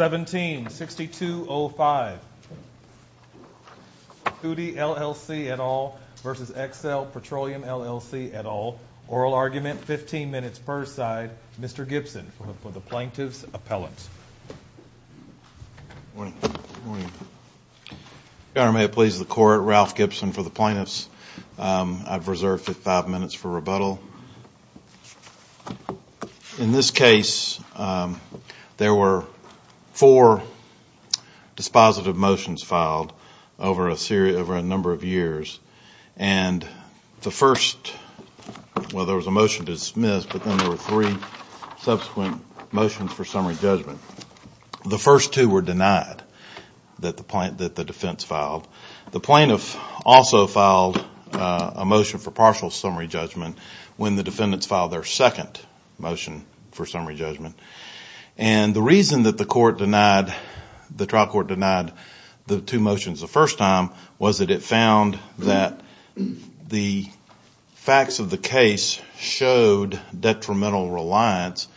176205 Kutite LLC et al. versus Excell Petroleum LLC et al. Oral argument, 15 minutes per side. Mr. Gibson for the plaintiff's appellant. Your Honor, may it please the court, Ralph Gibson for the plaintiffs. I've reserved There were four dispositive motions filed over a number of years. And the first, well there was a motion to dismiss, but then there were three subsequent motions for summary judgment. The first two were denied that the defense filed. The plaintiff also filed a motion for partial summary judgment when the defendants filed their second motion for summary judgment. And the reason that the trial court denied the two motions the first time was that it found that the facts of the case showed detrimental reliance,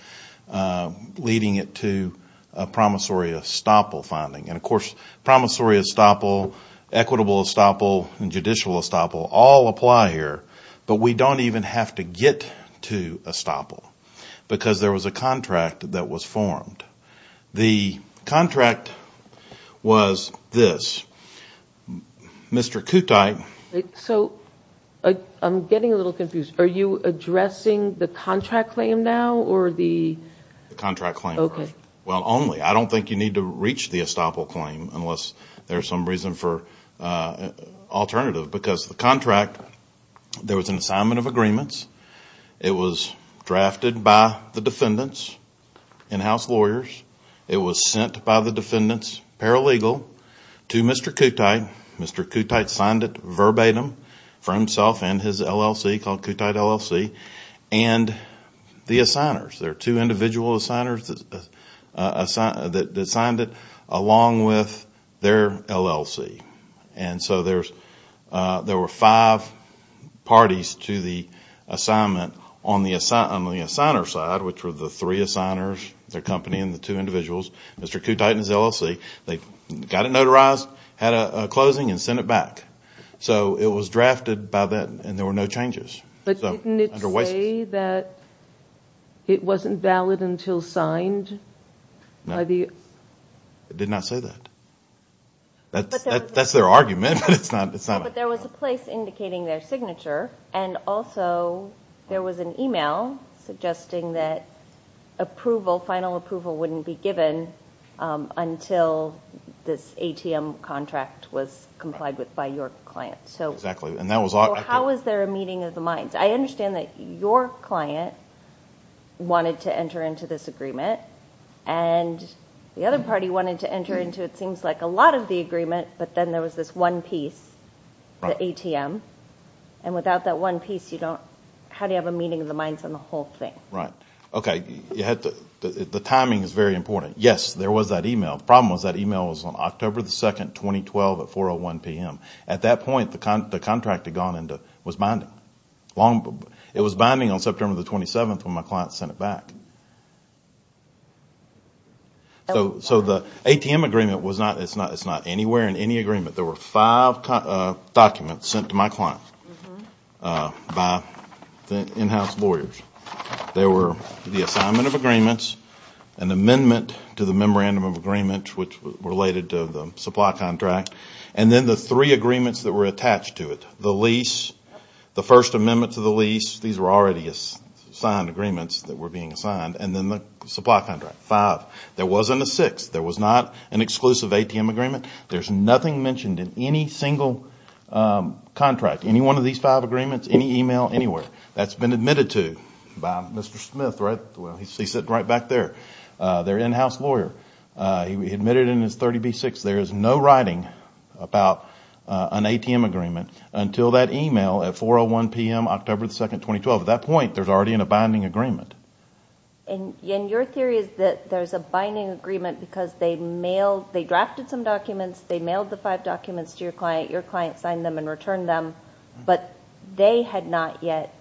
leading it to a promissory estoppel finding. And of course, promissory estoppel, equitable estoppel, and judicial estoppel all apply here. But we don't even have to get to estoppel because there was a contract that was formed. The contract was this. Mr. Kutight So, I'm getting a little confused. Are you addressing the contract claim now or the The contract claim, Your Honor. Well, only. I don't think you need to reach the estoppel claim unless there's some reason for alternative. Because the contract, there was an assignment of agreements. It was drafted by the defendants, in-house lawyers. It was sent by the defendants paralegal to Mr. Kutight. Mr. Kutight signed it verbatim for himself and his LLC called Kutight LLC. And the assigners, there are two individual assigners that signed it along with their LLC. And so, there were five parties to the assignment on the assigner side, which were the three assigners, their company, and the two individuals. Mr. Kutight and his LLC, they got it notarized, had a closing, and sent it back. So, it was drafted by that and there were no changes. But didn't it say that it wasn't valid until signed? No. It did not say that. That's their argument, but it's not. But there was a place indicating their signature and also there was an email suggesting that approval, final approval wouldn't be given until this ATM contract was complied with by your client. Exactly. So, how was there a meeting of the minds? I understand that your client wanted to enter into this agreement and the other party wanted to enter into, it seems like, a lot of the agreement, but then there was this one piece, the ATM. And without that one piece, how do you have a meeting of the minds on the whole thing? Right. Okay. The timing is very important. Yes, there was that email. The problem was that email was on October 2, 2012 at 4.01 p.m. At that point, the contract had gone through. So, the ATM agreement is not anywhere in any agreement. There were five documents sent to my client by in-house lawyers. There were the assignment of agreements, an amendment to the memorandum of agreement, which related to the supply contract, and then the three agreements that were attached to it. The lease, the first amendment to the lease, these were already signed agreements that were being signed, and then the supply contract, five. There wasn't a sixth. There was not an exclusive ATM agreement. There's nothing mentioned in any single contract, any one of these five agreements, any email, anywhere. That's been admitted to by Mr. Smith. He's sitting right back there, their in-house lawyer. He admitted in his 30B-6, there is no writing about an ATM agreement until that email at 4.01 p.m., October 2, 2012. At that point, there's already a binding agreement. And your theory is that there's a binding agreement because they mailed, they drafted some documents, they mailed the five documents to your client, your client signed them and returned them, but they had not yet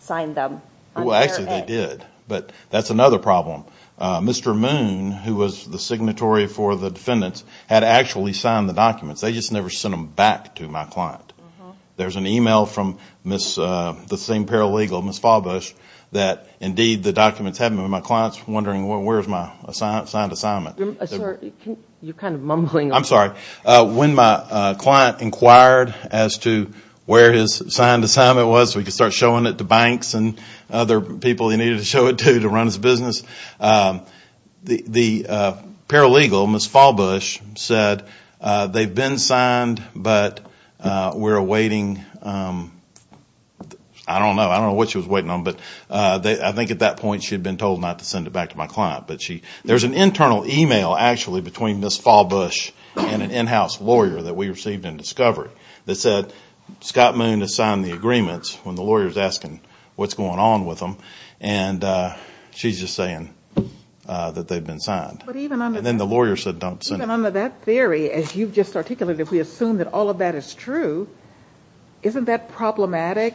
signed them. Well, actually they did, but that's another problem. Mr. Moon, who was the signatory for the defendants, had actually signed the documents. They just never sent them back to my client. There's an email from the same paralegal, Ms. Falbush, that indeed the documents had been with my client, wondering where's my signed assignment. Sir, you're kind of mumbling. I'm sorry. When my client inquired as to where his signed assignment was, we could start showing it to banks and other people he needed to show it to, to run his business. The paralegal, Ms. Falbush, said they've been signed, but we're awaiting, I don't know, I don't know what she was waiting on, but I think at that point she had been told not to send it back to my client. There's an internal email, actually, between Ms. Falbush and an in-house lawyer that we received in Discovery that said Scott Moon has signed the agreements when the lawyer is asking what's going on with them, and she's just saying that they've been signed. But even under that theory, as you've just articulated, if we assume that all of that is true, isn't that problematic?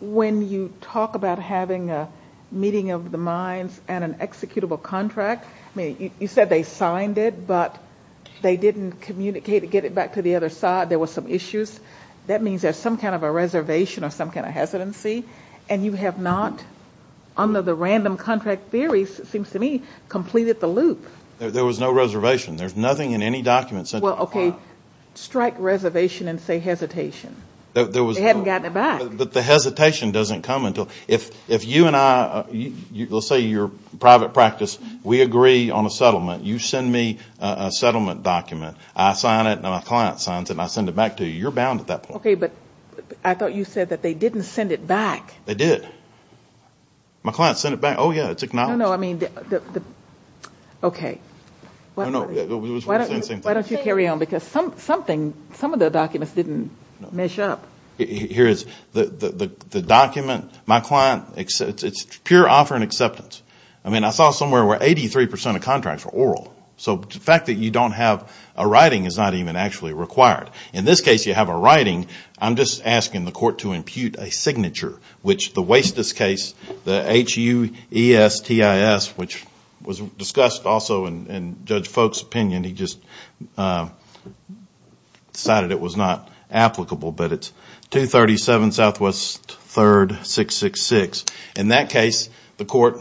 When you talk about having a meeting of the minds and an executable contract, you said they signed it, but they didn't communicate, get it back to the other side, there were some issues. That means there's some kind of a reservation or some kind of hesitancy, and you have not, under the random contract theories, it seems to me, completed the loop. There was no reservation. There's nothing in any document sent to me. Well, okay, strike reservation and say hesitation. They hadn't gotten it back. The hesitation doesn't come until, if you and I, let's say you're private practice, we agree on a settlement, you send me a settlement document, I sign it and my client signs it and I send it back to you, you're bound at that point. Okay, but I thought you said that they didn't send it back. They did. My client sent it back, oh yeah, it's acknowledged. I don't know, I mean, okay, why don't you carry on, because some of the documents didn't mesh up. Here is the document, my client, it's pure offer and acceptance. I mean, I saw somewhere where 83% of contracts were oral, so the fact that you don't have a writing is not even actually required. In this case, you have a writing, I'm just asking the court to impute a signature, which the Wastus case, the H-U-E-S-T-I-S, which was discussed also in Judge Folk's opinion, he just decided it was not applicable, but it's 237 Southwest 3rd 666. In that case, the court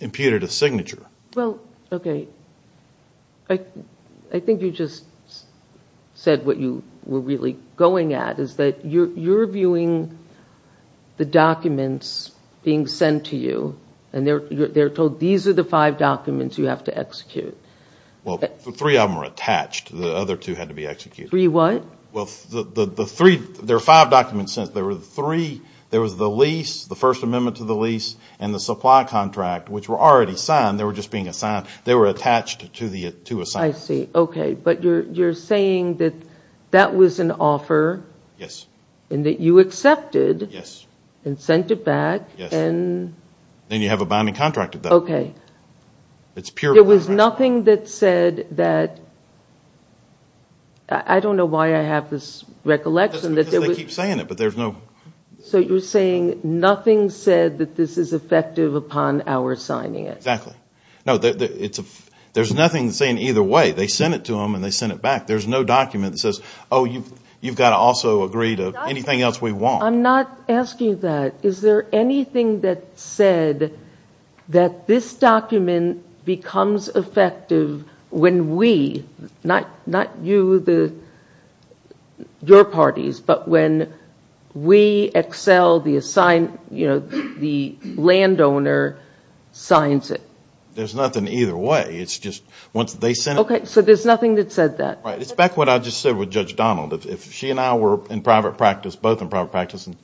imputed a signature. Well, okay, I think you just said what you were really going at, is that you're viewing the documents being sent to you, and they're told these are the five documents you have to execute. Well, three of them are attached, the other two had to be executed. Three what? Well, there are five documents sent, there were three, there was the lease, the First Amendment to the lease, and the supply contract, which were already signed, they were just being assigned, they were attached to the two assignments. I see, okay, but you're saying that that was an offer? Yes. And that you accepted and sent it back, and... Yes, and you have a binding contract with them. Okay. It's pure binding contract. There was nothing that said that, I don't know why I have this recollection that there was... That's because they keep saying it, but there's no... So you're saying nothing said that this is effective upon our signing it. Exactly. No, there's nothing saying either way, they sent it to them and they sent it to us, anything else we want. I'm not asking that, is there anything that said that this document becomes effective when we, not you, your parties, but when we, Excel, the landowner, signs it? There's nothing either way, it's just once they sent it... Okay, so there's nothing that said that. Right, it's back to what I just said with Judge Donald. If she and I were in private practice, both in private practice, and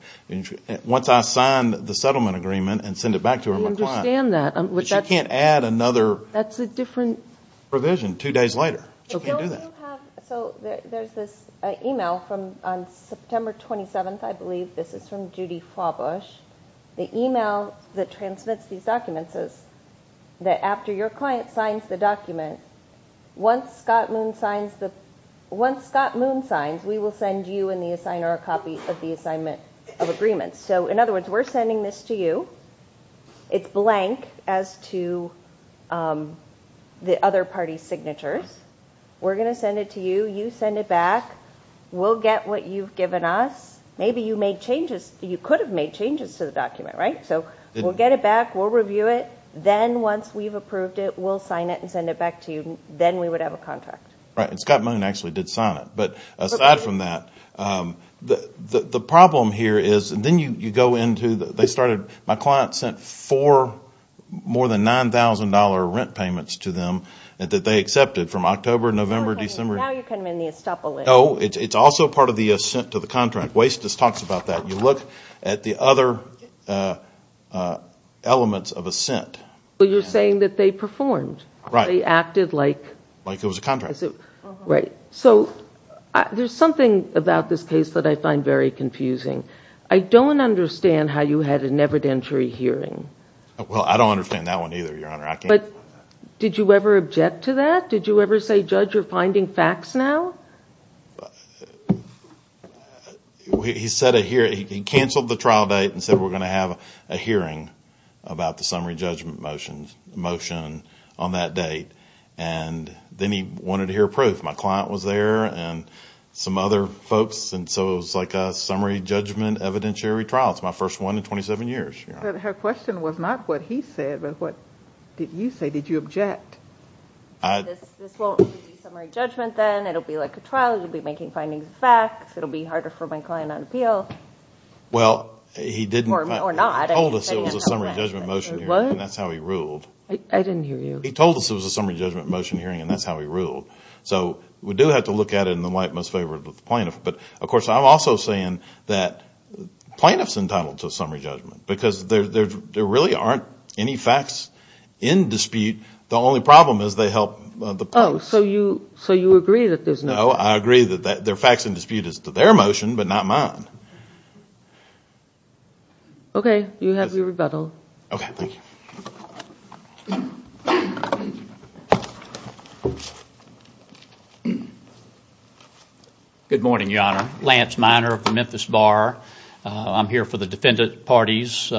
once I signed the settlement agreement and sent it back to her, my client... I understand that. But she can't add another... That's a different... ...provision two days later, she can't do that. So there's this email from, on September 27th, I believe, this is from Judy Flawbush. The email that transmits these documents says that after your client signs the document, once Scott Moon signs, we will send you and the assigner a copy of the assignment of agreement. So in other words, we're sending this to you, it's blank as to the other party's signatures, we're going to send it to you, you send it back, we'll get what you've given us, maybe you made changes, you could have made changes to the document, right? So we'll get it back, we'll review it, then once we've approved it, we'll sign it and send it back to you, then we would have a contract. Right, and Scott Moon actually did sign it. But aside from that, the problem here is, and then you go into, they started, my client sent four more than $9,000 rent payments to them that they accepted from October, November, December... Now you're kind of in the estoppel. No, it's also part of the assent to the contract. Waste just talks about that. You look at the other elements of assent. You're saying that they performed. Right. They acted like... Like it was a contract. Right. So there's something about this case that I find very confusing. I don't understand how you had an evidentiary hearing. Well, I don't understand that one either, Your Honor, I can't... But did you ever object to that? Did you ever say, Judge, you're finding facts now? He said, he canceled the trial date and said, we're going to have a hearing about the summary judgment motion on that date. And then he wanted to hear proof. My client was there and some other folks. And so it was like a summary judgment evidentiary trial. It's my first one in 27 years. Her question was not what he said, but what did you say? Did you object? This won't be summary judgment then. It'll be like a trial. You'll be making findings of facts. It'll be harder for my client not to appeal. Well, he didn't... He told us it was a summary judgment motion hearing and that's how he ruled. I didn't hear you. He told us it was a summary judgment motion hearing and that's how he ruled. So we do have to look at it in the light most favorable to the plaintiff. But of course, I'm also saying that plaintiff's entitled to a summary judgment because there really aren't any facts in dispute. The only problem is they help the plaintiff. Oh, so you agree that there's no... No, I agree that their facts in dispute is to their motion, but not mine. Okay, you have your rebuttal. Okay, thank you. Good morning, Your Honor. Lance Miner of the Memphis Bar. I'm here for the defendant parties,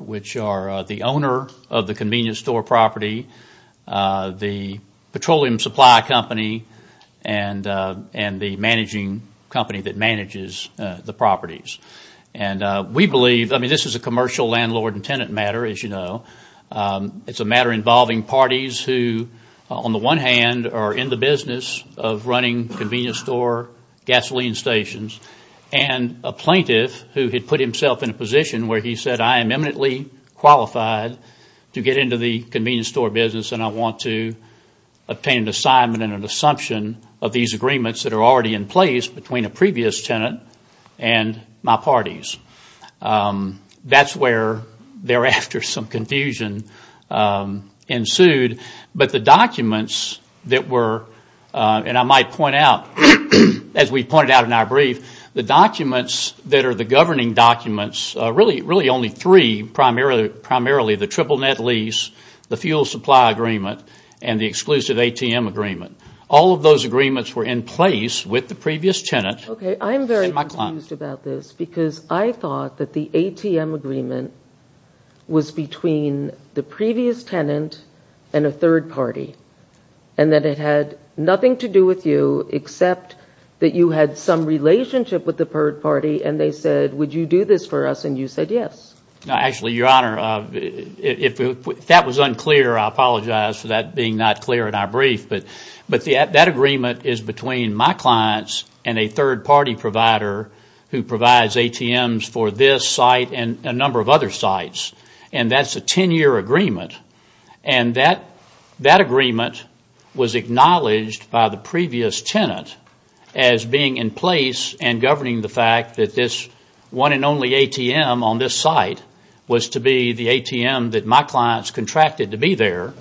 which are the owner of the convenience store property, the petroleum supply company, and the managing company that manages the properties. And we believe... I mean, this is a commercial landlord and tenant matter, as you know. It's a matter involving parties who, on the one hand, are in the business of running convenience store gasoline stations, and a plaintiff who had put himself in a position where he said, I am eminently qualified to get into the convenience store business and I want to obtain an assignment and an assumption of these agreements that are already in place between a previous tenant and my parties. That's where, thereafter, some confusion ensued. But the documents that were... And I might point out, as we pointed out in our brief, the documents that are the governing documents, really only three, primarily the triple net lease, the fuel supply agreement, and the exclusive ATM agreement. All of those agreements were in place with the previous tenant. Okay, I'm very confused about this because I thought that the ATM agreement was between the previous tenant and a third party, and that it had nothing to do with you, except that you had some relationship with the third party, and they said, would you do this for us? And you said yes. No, actually, Your Honor, if that was unclear, I apologize for that being not clear in our brief. But that agreement is between my clients and a third party provider who provides ATMs for this site and a number of other sites. And that's a 10-year agreement. And that agreement was acknowledged by the previous tenant as being in place and governing the fact that this one and only ATM on this site was to be the ATM that my clients contracted to be there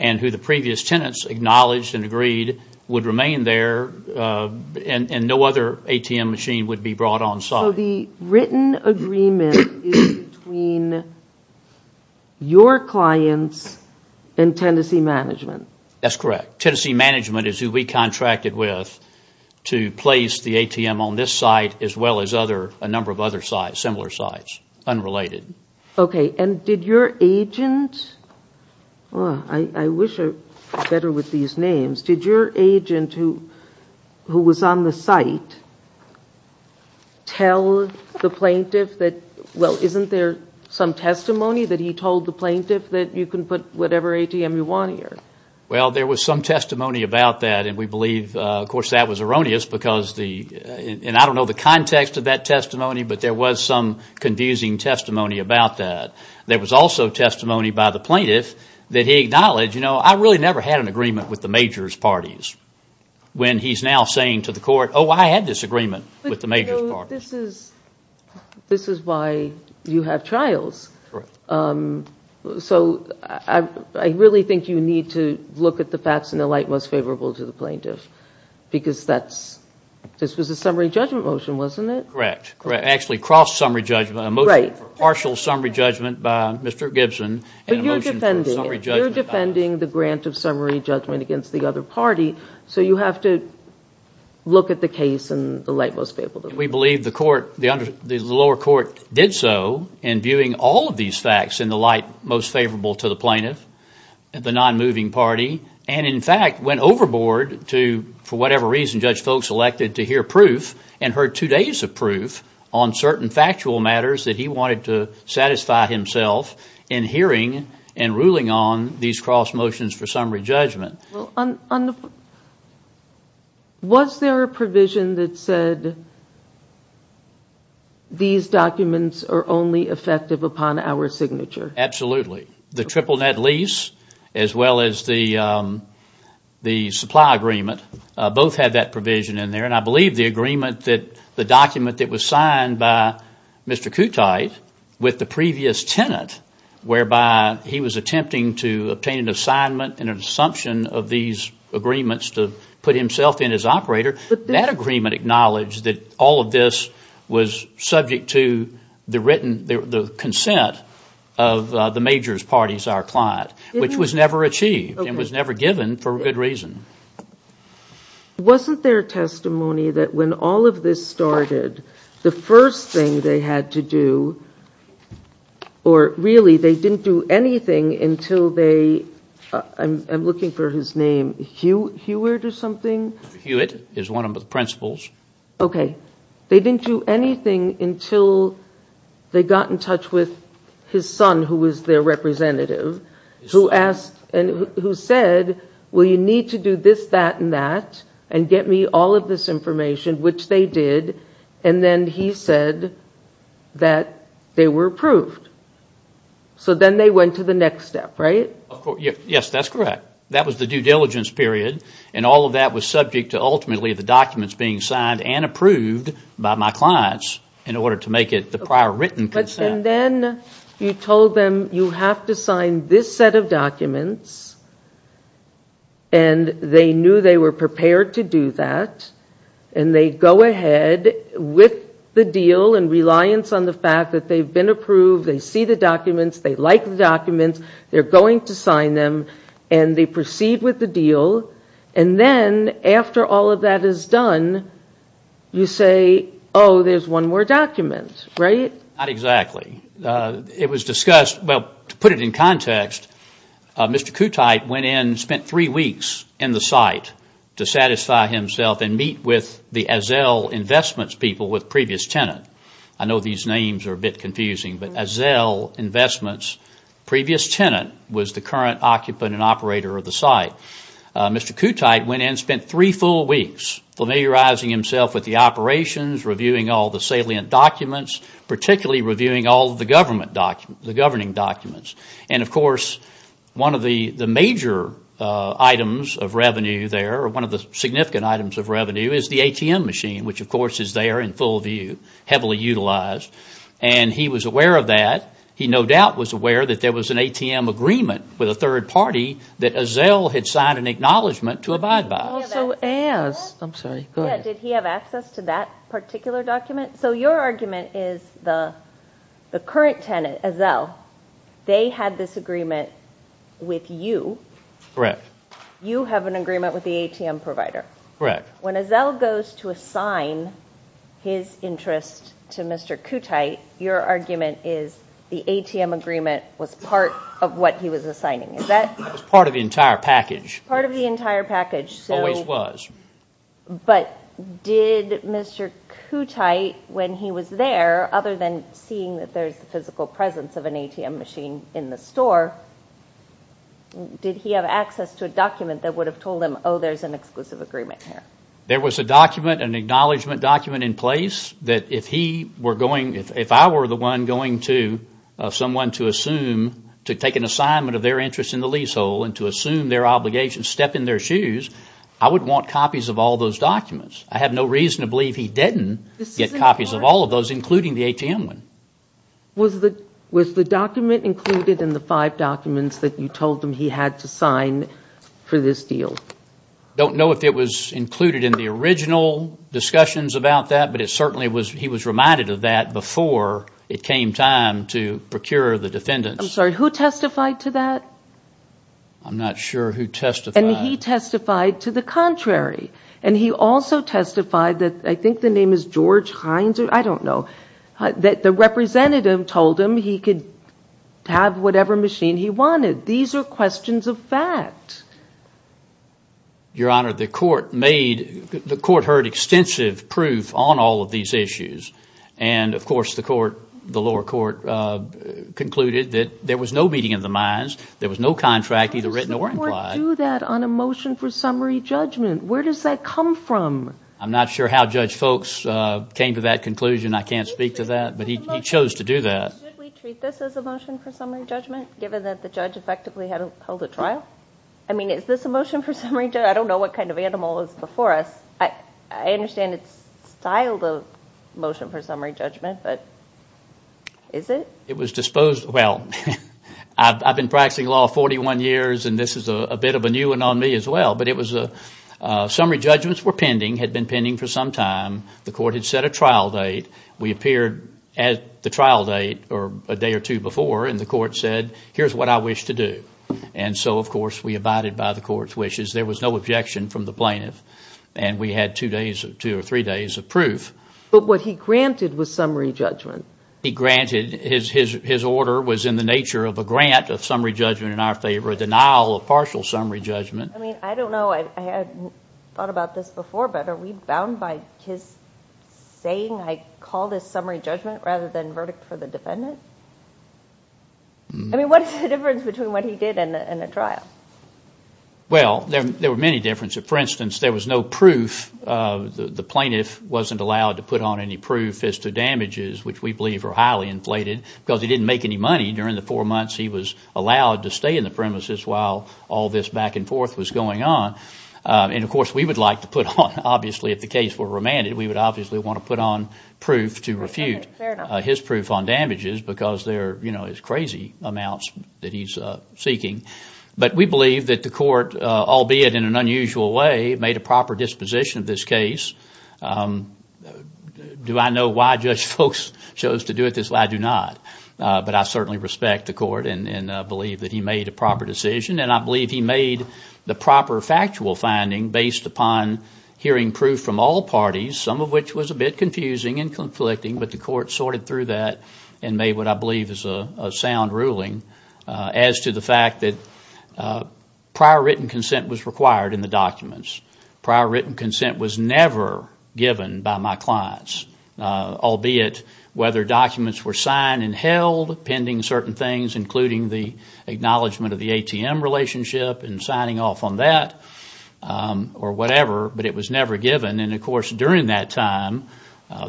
and who the previous tenants acknowledged and agreed would remain there and no other ATM machine would be brought on site. So the written agreement is between your clients and Tennessee Management? That's correct. Tennessee Management is who we contracted with to place the ATM on this site as well as a number of other sites, similar sites, unrelated. Okay. And did your agent, I wish I was better with these names, did your agent who was on the site tell the plaintiff that, well, isn't there some testimony that he told the plaintiff that you can put whatever ATM you want here? Well, there was some testimony about that. And we believe, of course, that was erroneous because the, and I don't know the context of that testimony, but there was some confusing testimony about that. There was also testimony by the plaintiff that he acknowledged, you know, I really never had an agreement with the majors' parties when he's now saying to the court, oh, I had this agreement with the majors' parties. So this is why you have trials. Correct. So I really think you need to look at the facts in the light most favorable to the plaintiff because that's, this was a summary judgment motion, wasn't it? Correct, correct. Actually, cross-summary judgment, a motion for partial summary judgment by Mr. Gibson. But you're defending the grant of summary judgment against the other party. So you have to look at the case in the light most favorable to the plaintiff. We believe the lower court did so in viewing all of these facts in the light most favorable to the plaintiff, the non-moving party, and in fact, went overboard to, for whatever reason, judge Foulkes elected to hear proof and heard two days of proof on certain factual matters that he wanted to satisfy himself in hearing and ruling on these cross motions for summary judgment. Was there a provision that said these documents are only effective upon our signature? Absolutely. The triple net lease as well as the supply agreement, both had that provision in there. And I believe the agreement that the document that was signed by Mr. Kutyte with the previous tenant whereby he was attempting to obtain an assignment and an assumption of these agreements to put himself in as operator, that agreement acknowledged that all of this was subject to the written, the consent of the major's parties, our client, which was never achieved and was never given for good reason. Wasn't there testimony that when all of this started, the first thing they had to do, or really they didn't do anything until they, I'm looking for his name, Hewitt or something? Hewitt is one of the principals. Okay. They didn't do anything until they got in touch with his son, who was their representative, who asked and who said, well, you need to do this, that and that and get me all of this information, which they did. And then he said that they were approved. So then they went to the next step, right? Yes, that's correct. That was the due diligence period. And all of that was subject to ultimately the documents being signed and approved by my clients in order to make it the prior written consent. And they knew they were prepared to do that. And they go ahead with the deal and reliance on the fact that they've been approved, they see the documents, they like the documents, they're going to sign them and they proceed with the deal. And then after all of that is done, you say, oh, there's one more document, right? Not exactly. It was discussed, well, to put it in context, Mr. Kutait went in, spent three weeks in the site to satisfy himself and meet with the Azzell Investments people with previous tenant. I know these names are a bit confusing, but Azzell Investments previous tenant was the current occupant and operator of the site. Mr. Kutait went in, spent three full weeks familiarizing himself with the operations, reviewing all the salient documents, particularly reviewing all the government documents, the governing documents. And of course, one of the major items of revenue there, one of the significant items of revenue is the ATM machine, which of course is there in full view, heavily utilized. And he was aware of that. He no doubt was aware that there was an ATM agreement with a third party that Azzell had signed an acknowledgment to abide by. Also as, I'm sorry, go ahead. Did he have access to that particular document? So your argument is the current tenant, Azzell, they had this agreement with you. Correct. You have an agreement with the ATM provider. Correct. When Azzell goes to assign his interest to Mr. Kutait, your argument is the ATM agreement was part of what he was assigning. It was part of the entire package. Part of the entire package. Always was. But did Mr. Kutait, when he was there, other than seeing that there's the physical presence of an ATM machine in the store, did he have access to a document that would have told him, oh, there's an exclusive agreement here? There was a document, an acknowledgment document in place that if he were going, if I were the one going to someone to assume, to take an assignment of their interest in the leasehold and to assume their obligation, step in their shoes, I would want copies of all those documents. I have no reason to believe he didn't get copies of all of those, including the ATM one. Was the document included in the five documents that you told him he had to sign for this deal? Don't know if it was included in the original discussions about that, but it certainly was, he was reminded of that before it came time to procure the defendants. I'm sorry, who testified to that? I'm not sure who testified. And he testified to the contrary. And he also testified that, I think the name is George Hines, I don't know, that the representative told him he could have whatever machine he wanted. These are questions of fact. Your Honor, the court heard extensive proof on all of these issues. And of course, the lower court concluded that there was no meeting of the minds, there was no contract either written or implied. How does the court do that on a motion for summary judgment? Where does that come from? I'm not sure how Judge Folks came to that conclusion. I can't speak to that, but he chose to do that. Should we treat this as a motion for summary judgment, given that the judge effectively held a trial? I mean, is this a motion for summary judgment? I don't know what kind of animal is before us. I understand it's styled a motion for summary judgment, but is it? It was disposed, well, I've been practicing law 41 years, and this is a bit of a new one on me as well. But it was a summary judgments were pending, had been pending for some time. The court had set a trial date. We appeared at the trial date or a day or two before, and the court said, here's what I wish to do. And so, of course, we abided by the court's wishes. There was no objection from the plaintiff. And we had two days, two or three days of proof. But what he granted was summary judgment. He granted, his order was in the nature of a grant of summary judgment in our favor, a denial of partial summary judgment. I mean, I don't know, I hadn't thought about this before, but are we bound by his saying, I call this summary judgment rather than verdict for the defendant? I mean, what is the difference between what he did and a trial? Well, there were many differences. For instance, there was no proof. The plaintiff wasn't allowed to put on any proof as to damages, which we believe are highly inflated because he didn't make any money during the four months he was allowed to stay in the premises while all this back and forth was going on. And of course, we would like to put on, obviously, if the case were remanded, we would obviously want to put on proof to refute his proof on damages because there is crazy amounts that he's seeking. But we believe that the court, albeit in an unusual way, made a proper disposition of this case. Do I know why Judge Folks chose to do it this way? I do not. But I certainly respect the court and believe that he made a proper decision. And I believe he made the proper factual finding based upon hearing proof from all parties, some of which was a bit confusing and conflicting, but the court sorted through that and made what I believe is a sound ruling as to the fact that prior written consent was required in the documents. Prior written consent was never given by my clients, albeit whether documents were signed and held pending certain things, including the acknowledgement of the ATM relationship and signing off on that or whatever, but it was never given. And of course, during that time,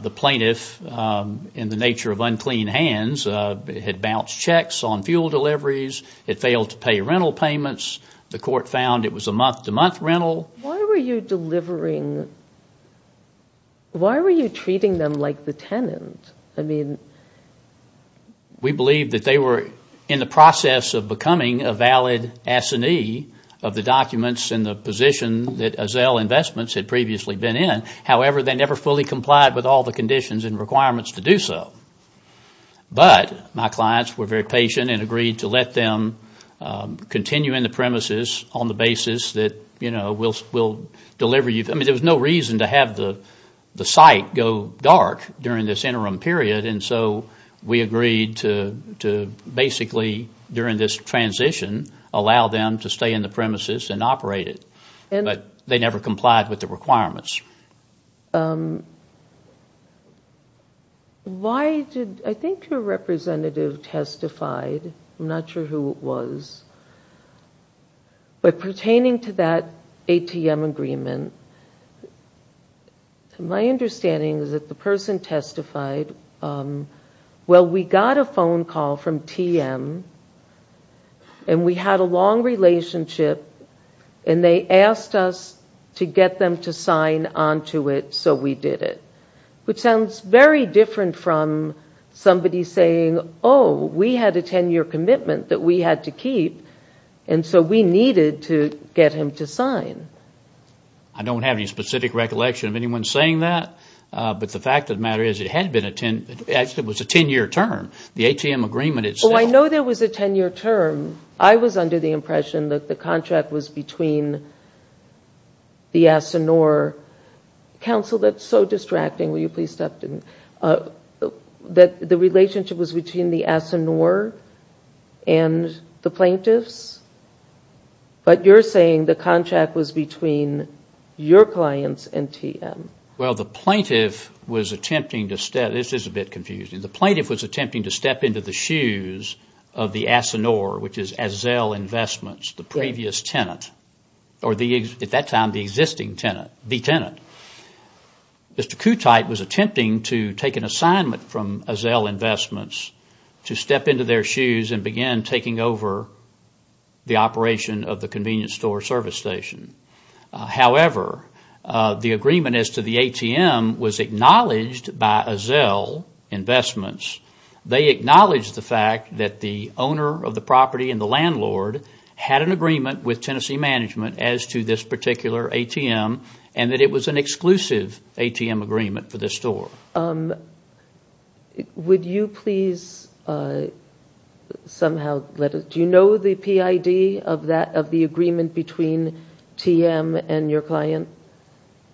the plaintiff, in the nature of unclean hands, had bounced checks on fuel deliveries, had failed to pay rental payments. The court found it was a month-to-month rental. Why were you delivering? Why were you treating them like the tenant? I mean, we believe that they were in the process of becoming a valid assignee of the documents and the position that Azelle Investments had previously been in. However, they never fully complied with all the conditions and requirements to do so. But my clients were very patient and agreed to let them continue in the premises on the basis that, you know, we'll deliver you. I mean, there was no reason to have the site go dark during this interim period, and so we agreed to basically, during this transition, allow them to stay in the premises and operate it. But they never complied with the requirements. I think your representative testified. I'm not sure who it was. But pertaining to that ATM agreement, my understanding is that the person testified, well, we got a phone call from TM, and we had a long relationship, and they asked us to get them to sign onto it, so we did it. Which sounds very different from somebody saying, oh, we had a 10-year commitment that we had to keep, and so we needed to get him to sign. I don't have any specific recollection of anyone saying that, but the fact of the matter is it was a 10-year term. The ATM agreement itself. I know there was a 10-year term. I was under the impression that the contract was between the Asinore Council. That's so distracting. Will you please stop? I'm sorry. The relationship was between the Asinore and the plaintiffs, but you're saying the contract was between your clients and TM. Well, the plaintiff was attempting to step into the shoes of the Asinore, which is Azzell Investments, the previous tenant, or at that time, the existing tenant, the tenant. Mr. Kutight was attempting to take an assignment from Azzell Investments to step into their shoes and begin taking over the operation of the convenience store service station. However, the agreement as to the ATM was acknowledged by Azzell Investments. They acknowledged the fact that the owner of the property and the landlord had an agreement with Tennessee Management as to this particular ATM and that it was an exclusive ATM agreement for this store. Would you please somehow let us... Do you know the PID of the agreement between TM and your client?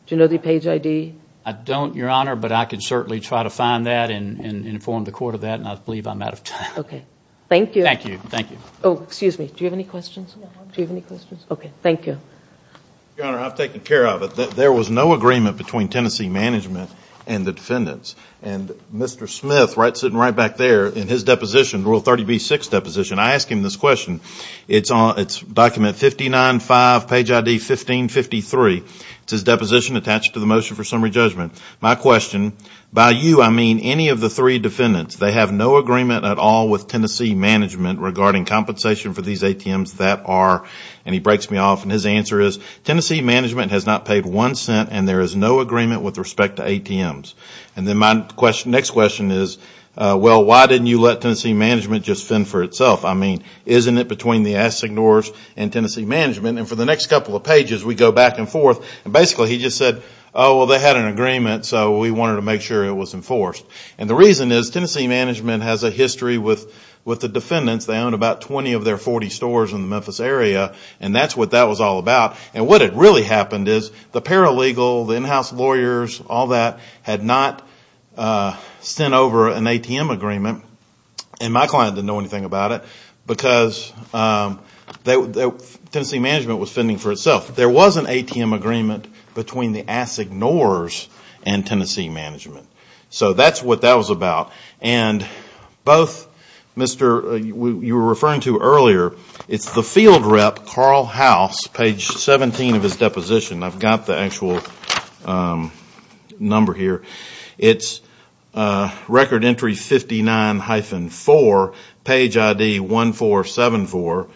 Do you know the page ID? I don't, Your Honor, but I could certainly try to find that and inform the court of that, and I believe I'm out of time. Okay. Thank you. Thank you. Thank you. Oh, excuse me. Do you have any questions? No. Do you have any questions? Okay. Thank you. Your Honor, I've taken care of it. There was no agreement between Tennessee Management and the defendants, and Mr. Smith, sitting right back there, in his deposition, Rule 30b-6 deposition, I ask him this question. It's document 59-5, page ID 15-53. It's his deposition attached to the motion for summary judgment. My question, by you, I mean any of the three defendants. They have no agreement at all with Tennessee Management regarding compensation for these ATMs that are... He breaks me off, and his answer is, Tennessee Management has not paid one cent, and there is no agreement with respect to ATMs. Then my next question is, well, why didn't you let Tennessee Management just fend for itself? I mean, isn't it between the assignors and Tennessee Management? For the next couple of pages, we go back and forth. Basically, he just said, oh, well, they had an agreement, so we wanted to make sure it was enforced. The reason is Tennessee Management has a history with the defendants. They own about 20 of their 40 stores in the Memphis area, and that's what that was all about. What had really happened is the paralegal, the in-house lawyers, all that had not sent over an ATM agreement, and my client didn't know anything about it because Tennessee Management was fending for itself. There was an ATM agreement between the assignors and Tennessee Management, so that's what that was about. And both, Mr., you were referring to earlier, it's the field rep, Carl House, page 17 of his deposition. I've got the actual number here. It's record entry 59-4, page ID 1474.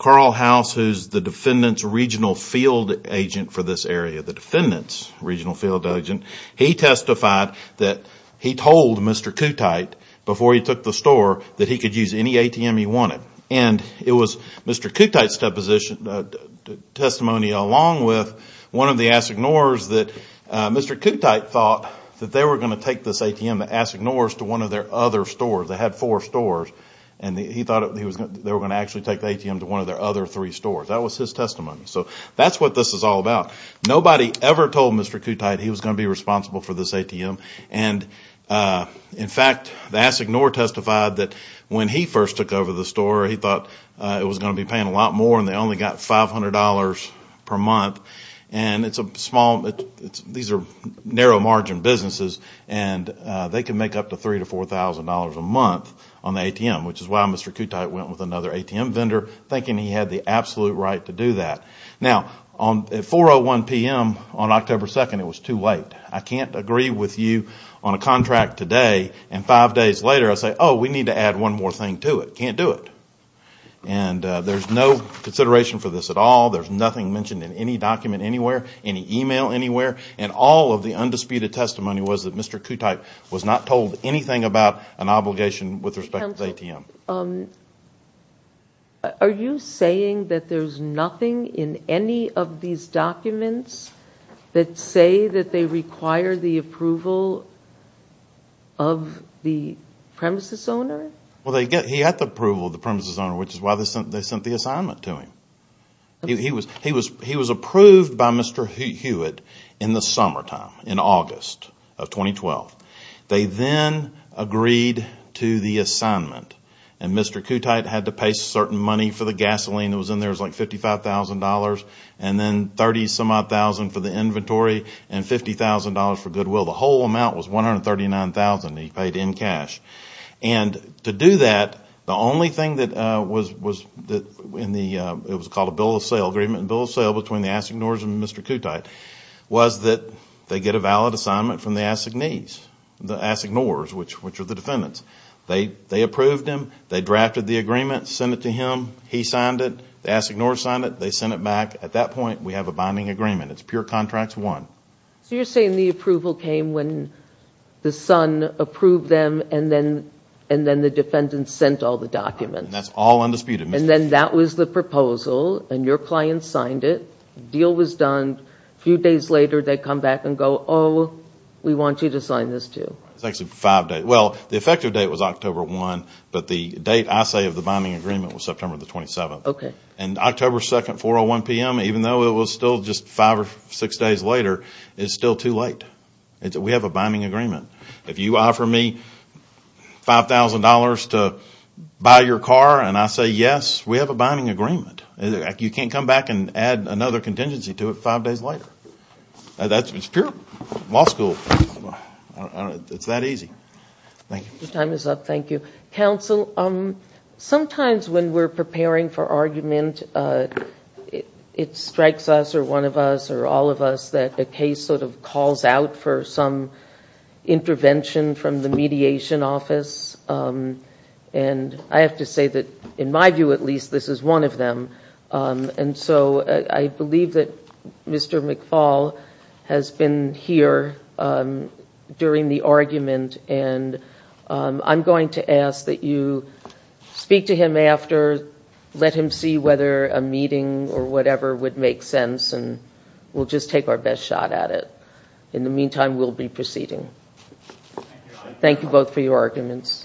Carl House, who's the defendant's regional field agent for this area, the defendant's regional field agent, he testified that he told Mr. Kutight before he took the store that he could use any ATM he wanted. And it was Mr. Kutight's testimony along with one of the assignors that Mr. Kutight thought that they were going to take this ATM, the assignors, to one of their other stores. They had four stores, and he thought they were going to actually take the ATM to one of their other three stores. That was his testimony. So that's what this is all about. Nobody ever told Mr. Kutight he was going to be responsible for this ATM. And in fact, the assignor testified that when he first took over the store, he thought it was going to be paying a lot more, and they only got $500 per month. These are narrow margin businesses, and they can make up to $3,000 to $4,000 a month on the ATM, which is why Mr. Kutight went with another ATM vendor, thinking he had the absolute right to do that. Now, at 4.01 p.m. on October 2nd, it was too late. I can't agree with you on a contract today, and five days later, I say, oh, we need to add one more thing to it. Can't do it. And there's no consideration for this at all. There's nothing mentioned in any document anywhere, any email anywhere. And all of the undisputed testimony was that Mr. Kutight was not told anything about an obligation with respect to the ATM. Um, are you saying that there's nothing in any of these documents that say that they require the approval of the premises owner? Well, he had the approval of the premises owner, which is why they sent the assignment to him. He was approved by Mr. Hewitt in the summertime, in August of 2012. They then agreed to the assignment, and Mr. Kutight had to pay certain money for the gasoline that was in there. It was like $55,000, and then 30-some-odd thousand for the inventory, and $50,000 for goodwill. The whole amount was $139,000 that he paid in cash. And to do that, the only thing that was in the, it was called a bill of sale agreement, bill of sale between the Assignors and Mr. Kutight, was that they get a valid assignment from the Assignees. The Assignors, which are the defendants. They approved him. They drafted the agreement, sent it to him. He signed it. The Assignors signed it. They sent it back. At that point, we have a binding agreement. It's pure contract one. So you're saying the approval came when the son approved them, and then the defendants sent all the documents. That's all undisputed. And then that was the proposal, and your client signed it. The deal was done. A few days later, they come back and go, we want you to sign this too. It's actually five days. Well, the effective date was October 1, but the date, I say, of the binding agreement was September the 27th. Okay. And October 2nd, 4.01 p.m., even though it was still just five or six days later, it's still too late. We have a binding agreement. If you offer me $5,000 to buy your car, and I say yes, we have a binding agreement. You can't come back and add another contingency to it five days later. That's pure law school. It's that easy. Thank you. Your time is up. Thank you. Counsel, sometimes when we're preparing for argument, it strikes us, or one of us, or all of us, that a case sort of calls out for some intervention from the mediation office. And I have to say that, in my view at least, this is one of them. And so I believe that Mr. McFaul has been here during the argument, and I'm going to ask that you speak to him after, let him see whether a meeting or whatever would make sense, and we'll just take our best shot at it. In the meantime, we'll be proceeding. Thank you both for your arguments. Thank you.